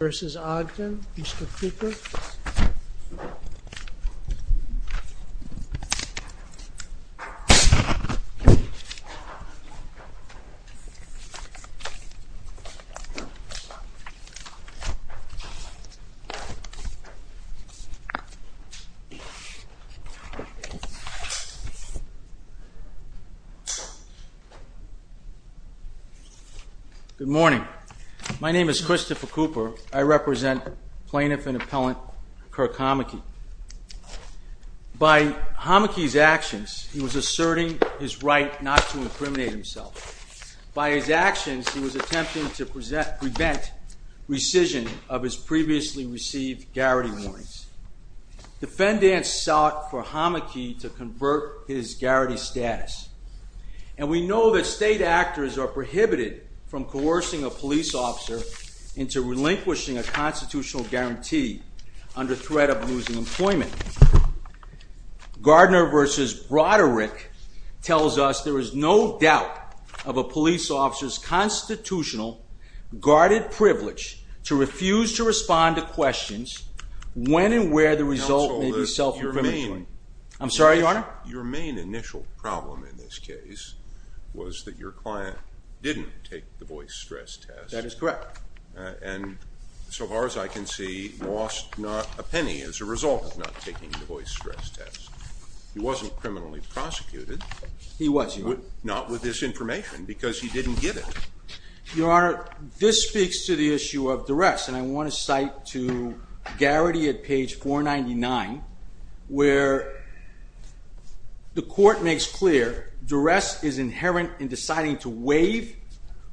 vs. Ogden. Mr. Cooper. Good morning. My name is Christopher Cooper. I represent Plaintiff and Appellant Kirk Homoky. By Homoky's actions, he was asserting his right not to incriminate himself. By his actions, he was attempting to prevent rescission of his previously received garrity warrants. Defendants sought for Homoky to convert his garrity status. And we know that state actors are prohibited from coercing a police officer into relinquishing a constitutional guarantee under threat of losing employment. Gardner vs. Broderick tells us there is no doubt of a police officer's constitutional, guarded privilege to refuse to respond to questions when and where the result may be self-incriminating. Your main initial problem in this case was that your client didn't take the voice stress test. That is correct. And so far as I can see, lost not a penny as a result of not taking the voice stress test. He wasn't criminally prosecuted. He was. Not with this information because he didn't get it. Your Honor, this speaks to the issue of duress. And I want to cite to Garrity at page 499 where the court makes clear duress is inherent in deciding to waive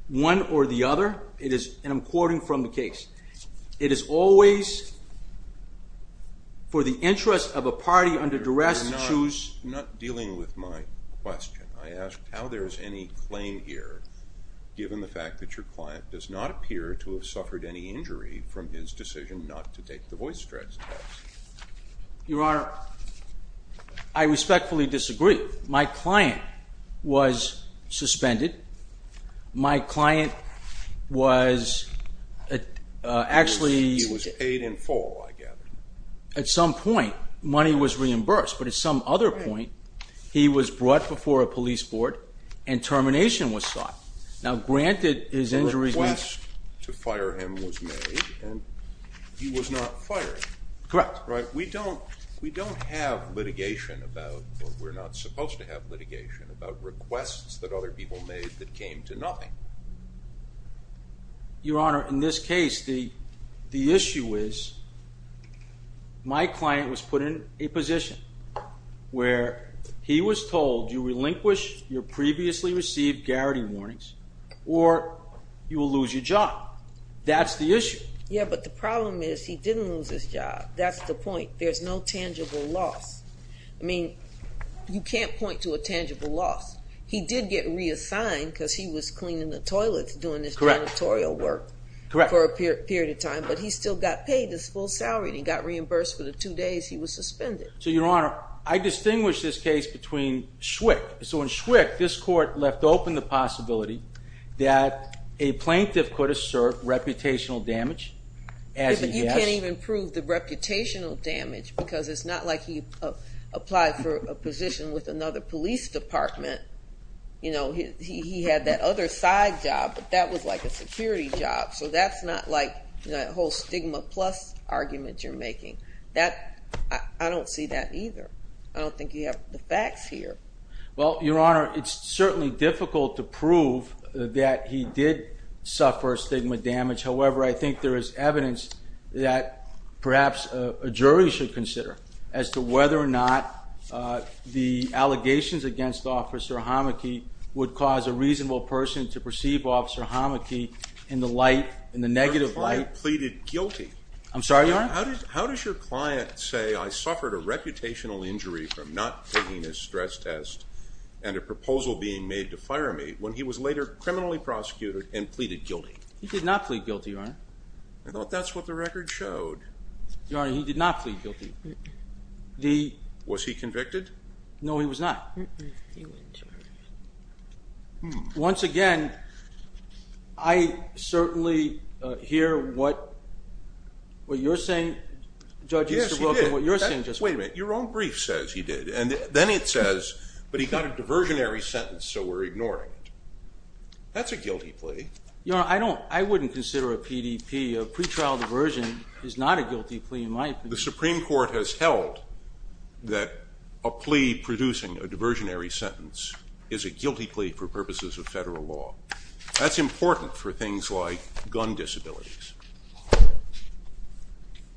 one or the other. And I'm quoting from the case. It is always for the interest of a party under duress to choose. I'm not dealing with my question. I ask how there's any claim here given the fact that your client does not appear to have suffered any injury from his decision not to take the voice stress test. Your Honor, I respectfully disagree. My client was suspended. My client was actually paid in full, I gather. At some point, money was reimbursed. But at some other point, he was brought before a police board and termination was sought. Now, granted his injury request to fire him was made and he was not fired. Correct. Right. We don't have litigation about or we're not supposed to have litigation about requests that other people made that came to nothing. Your Honor, in this case, the issue is my client was put in a position where he was told you relinquish your previously received Garrity warnings or you will lose your job. That's the issue. Yeah, but the problem is he didn't lose his job. That's the point. There's no tangible loss. I mean, you can't point to a tangible loss. He did get reassigned because he was cleaning the toilets, doing this janitorial work for a period of time, but he still got paid his full salary and he got reimbursed for the two days he was suspended. So, Your Honor, I distinguish this case between Schwick. So, in Schwick, this court left open the possibility that a plaintiff could assert reputational damage. You can't even prove the because it's not like he applied for a position with another police department. You know, he had that other side job, but that was like a security job. So, that's not like the whole stigma plus argument you're making. I don't see that either. I don't think you have the facts here. Well, Your Honor, it's certainly difficult to prove that he did suffer stigma damage. However, I think there is evidence that perhaps a jury should consider as to whether or not the allegations against Officer Hamaki would cause a reasonable person to perceive Officer Hamaki in the light, in the negative light. Your client pleaded guilty. I'm sorry, Your Honor? How does your client say, I suffered a reputational injury from not taking his stress test and a proposal being made to fire me, when he was later criminally prosecuted and pleaded guilty? He did not plead guilty, Your Honor. I thought that's what the record showed. Your Honor, he did not plead guilty. Was he convicted? No, he was not. Once again, I certainly hear what you're saying, Judge Easterbrook, and what you're saying. Wait a minute, your own brief says he did, and then it says, but he got a diversionary sentence, so we're ignoring it. That's a guilty plea. Your Honor, I wouldn't consider a PDP. A pretrial diversion is not a guilty plea, in my opinion. The Supreme Court has held that a plea producing a diversionary sentence is a guilty plea for purposes of federal law. That's important for things like gun disabilities.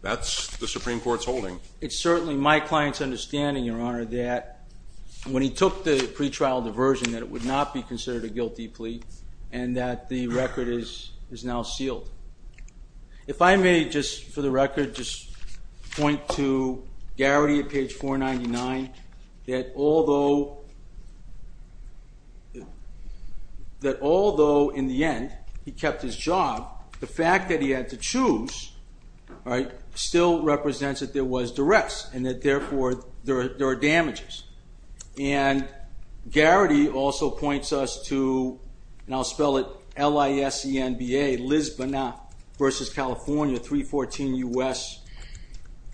That's the Supreme Court's holding. It's certainly my client's understanding, Your Honor, that when he took the pretrial diversion, that it would not be considered a guilty plea, and that the record is now sealed. If I may, just for the record, just point to Garrity at page 499, that although in the end, he kept his job, the fact that he had to therefore, there are damages. And Garrity also points us to, and I'll spell it L-I-S-E-N-B-A, Lisbon versus California, 314 U.S.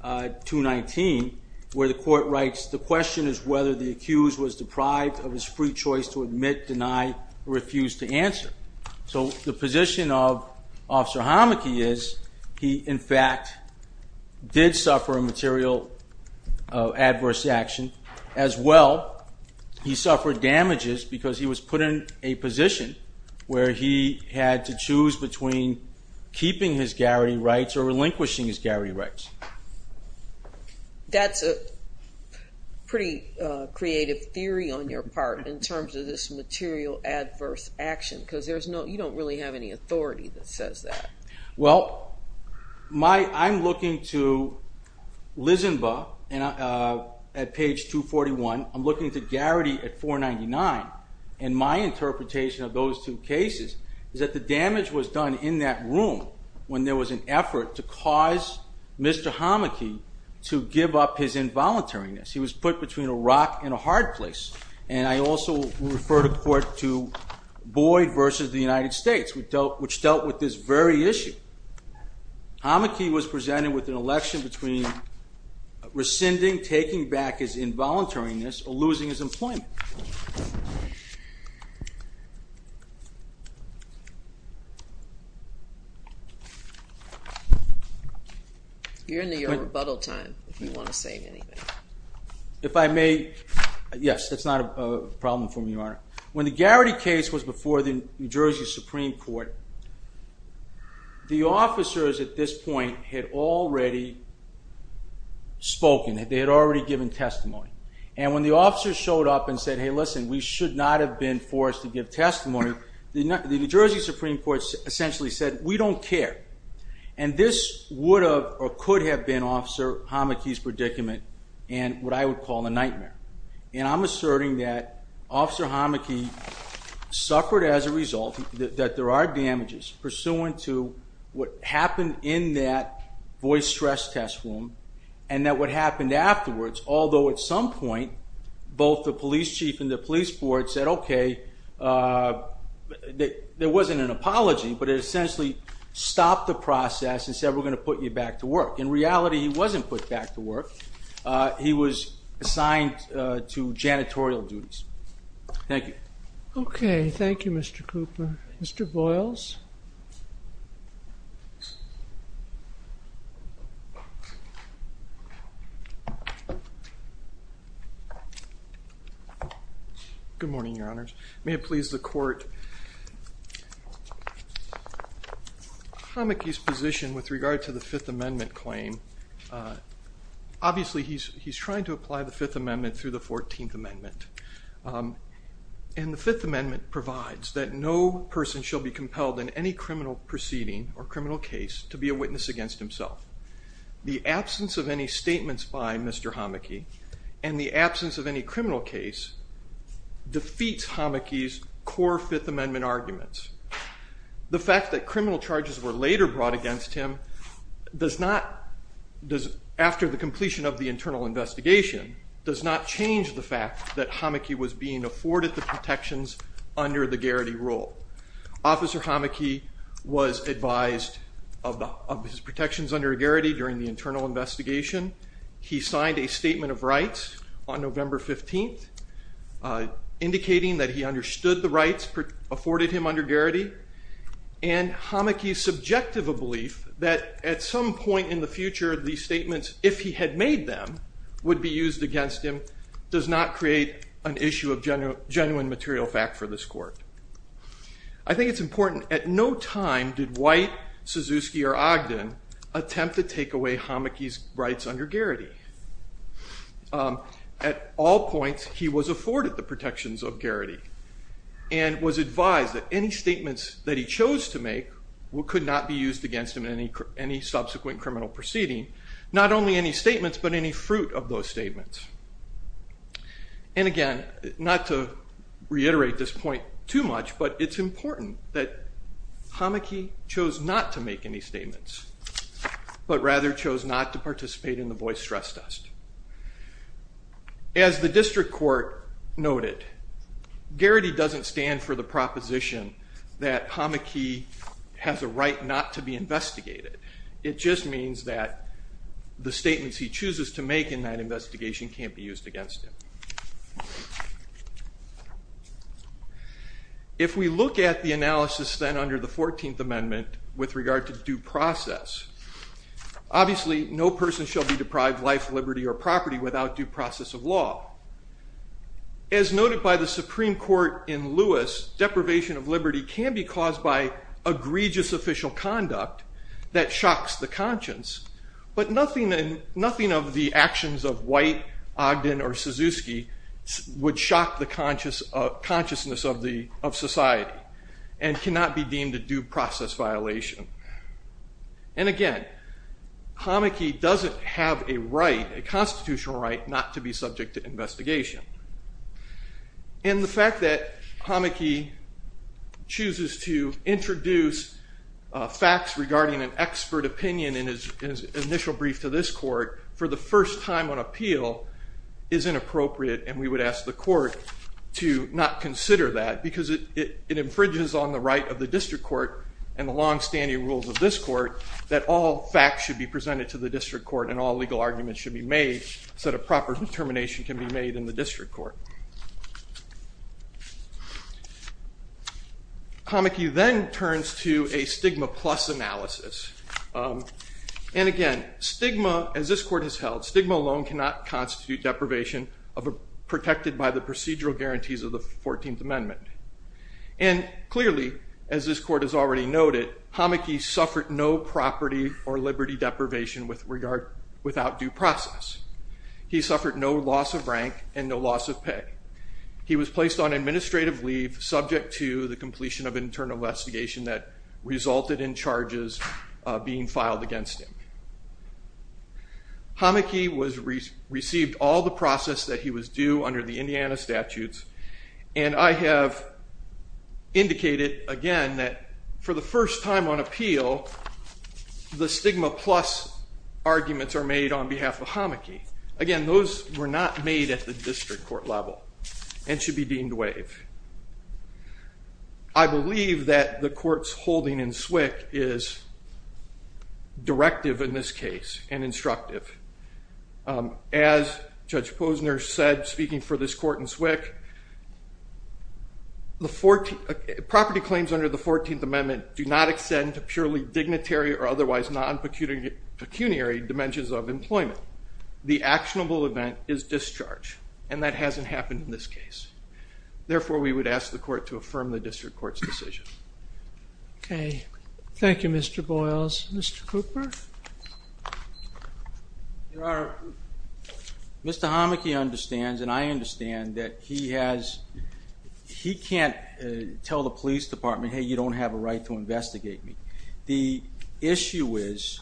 219, where the court writes, the question is whether the accused was deprived of his free choice to admit, deny, or refuse to answer. So the position of Officer of Adverse Action, as well, he suffered damages because he was put in a position where he had to choose between keeping his Garrity rights or relinquishing his Garrity rights. That's a pretty creative theory on your part, in terms of this material adverse action, because there's no, you don't really have any authority that says that. Well, my, I'm looking to Lisbon at page 241, I'm looking to Garrity at 499, and my interpretation of those two cases is that the damage was done in that room when there was an effort to cause Mr. Hamaki to give up his involuntariness. He was put between a rock and a hard place. And I also refer to court to Boyd versus the United States, which dealt with this very issue. Hamaki was presented with an election between rescinding, taking back his involuntariness, or losing his employment. You're in the rebuttal time, if you want to say anything. If I may, yes, that's not a problem for me, Your Honor. When the Garrity case was before the New Jersey Supreme Court, the officers at this point had already spoken, they had already given testimony. And when the officers showed up and said, hey, listen, we should not have been forced to give testimony, the New Jersey Supreme Court essentially said, we don't care. And this would or could have been Officer Hamaki's predicament, and what I would call a nightmare. And I'm asserting that Officer Hamaki suffered as a result, that there are damages pursuant to what happened in that Boyd stress test room, and that what happened afterwards, although at some point, both the police chief and the police board said, okay, there wasn't an apology, but it stopped the process and said, we're going to put you back to work. In reality, he wasn't put back to work. He was assigned to janitorial duties. Thank you. Okay. Thank you, Mr. Cooper. Mr. Boyles. Good morning, Your Honors. May it please the court. Hamaki's position with regard to the Fifth Amendment claim, obviously, he's trying to apply the Fifth Amendment through the 14th Amendment. And the Fifth Amendment provides that no person shall be compelled in any way, any criminal proceeding or criminal case to be a witness against himself. The absence of any statements by Mr. Hamaki, and the absence of any criminal case, defeats Hamaki's core Fifth Amendment arguments. The fact that criminal charges were later brought against him does not, after the completion of the internal investigation, does not change the fact that Hamaki was being afforded the protections under the Garrity rule. Officer Hamaki was advised of his protections under Garrity during the internal investigation. He signed a statement of rights on November 15th, indicating that he understood the rights afforded him under Garrity. And Hamaki's subjective belief that at some point in the future, these statements, if he had made them, would be used against him does not create an issue of genuine material fact for this court. I think it's important, at no time did White, Suzuki, or Ogden attempt to take away Hamaki's rights under Garrity. At all points, he was afforded the protections of Garrity, and was advised that any statements that he chose to make could not be used against him in any subsequent criminal proceeding. Not only any statements, but any fruit of those statements. And again, not to reiterate this point too much, but it's important that Hamaki chose not to make any statements, but rather chose not to participate in the Boyce stress test. As the district court noted, Garrity doesn't stand for the proposition that Hamaki has a right not to be investigated. It just means that the statements he chooses to make in that investigation can't be used against him. If we look at the analysis then under the 14th Amendment with regard to due process, obviously no person shall be deprived life, liberty, or property without due process of law. As noted by the Supreme Court in Lewis, deprivation of liberty can be caused by egregious official conduct that shocks the conscience, but nothing of the actions of White, Ogden, or Suzuki would shock the consciousness of society and cannot be deemed a due process violation. And again, Hamaki doesn't have a constitutional right not to be subject to investigation. And the fact that Hamaki chooses to introduce facts regarding an expert opinion in his initial brief to this court for the first time on appeal is inappropriate, and we would ask the court to not consider that because it infringes on the right of the district court and the long-standing rules of this court that all facts should be presented to the district court and all legal arguments should be made so that a proper determination can be made in the district court. Hamaki then turns to a stigma plus analysis. And again, stigma, as this court has held, stigma alone cannot constitute deprivation protected by the procedural guarantees of the 14th Amendment. And clearly, as this court has already noted, Hamaki suffered no property or liberty deprivation without due process. He suffered no loss of rank and no loss of pay. He was placed on administrative leave subject to the completion of internal investigation that resulted in charges being filed against him. Hamaki received all the process that he was due under the Indiana statutes, and I have indicated again that for the first time on appeal, the stigma plus arguments are made on behalf of Hamaki. Again, those were not made at the district court level and should be deemed waive. I believe that the court's holding in SWCC is directive in this case and instructive. As Judge Posner said, speaking for this court in SWCC, property claims under the 14th Amendment do not extend to purely dignitary or otherwise non-pecuniary dimensions of employment. The actionable event is discharge, and that hasn't happened in this case. Therefore, we would ask the court to affirm the district court's decision. Okay. Thank you, Mr. Boyles. Mr. Cooper? Mr. Hamaki understands, and I understand, that he can't tell the police department, hey, you don't have a right to investigate me. The issue is,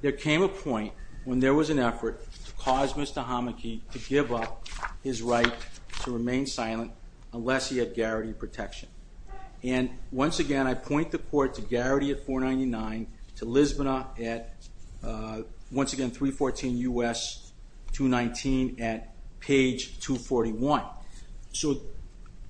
there came a point when there was an effort to cause Mr. Hamaki to give up his right to remain protection. Once again, I point the court to Garrity at 499, to Lisbonat at 314 U.S. 219 at page 241.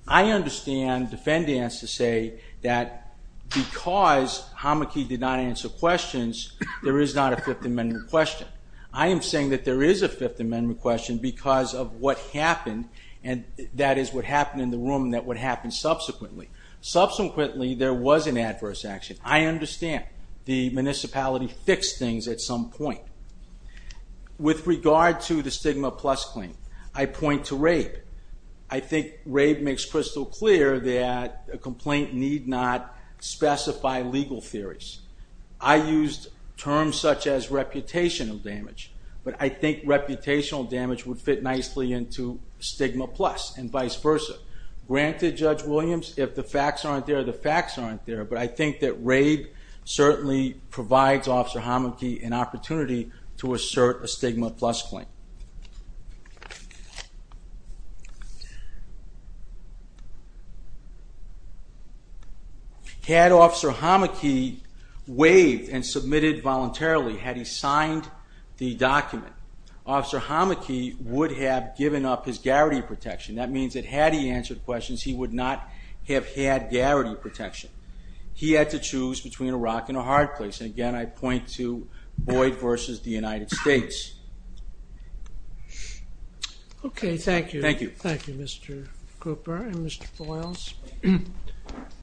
I understand defendants to say that because Hamaki did not answer questions, there is not a Fifth Amendment question. I am saying that there is a Fifth Amendment question because of what happened, and that is what happened in the room, and what happened subsequently. Subsequently, there was an adverse action. I understand. The municipality fixed things at some point. With regard to the stigma plus claim, I point to rape. I think rape makes crystal clear that a complaint need not specify legal theories. I used terms such as reputational damage, but I think reputational damage would fit nicely into stigma plus and vice versa. Granted, Judge Williams, if the facts aren't there, the facts aren't there, but I think that rape certainly provides Officer Hamaki an opportunity to assert a stigma plus claim. Had Officer Hamaki waived and submitted voluntarily, had he signed the document, Officer Hamaki would have given up his Garrity protection. That means that had he answered questions, he would not have had Garrity protection. He had to choose between a rock and a hard place. Again, I point to Boyd versus the United States. Okay. Thank you. Thank you. Thank you, Mr. Cooper and Mr. Boyles.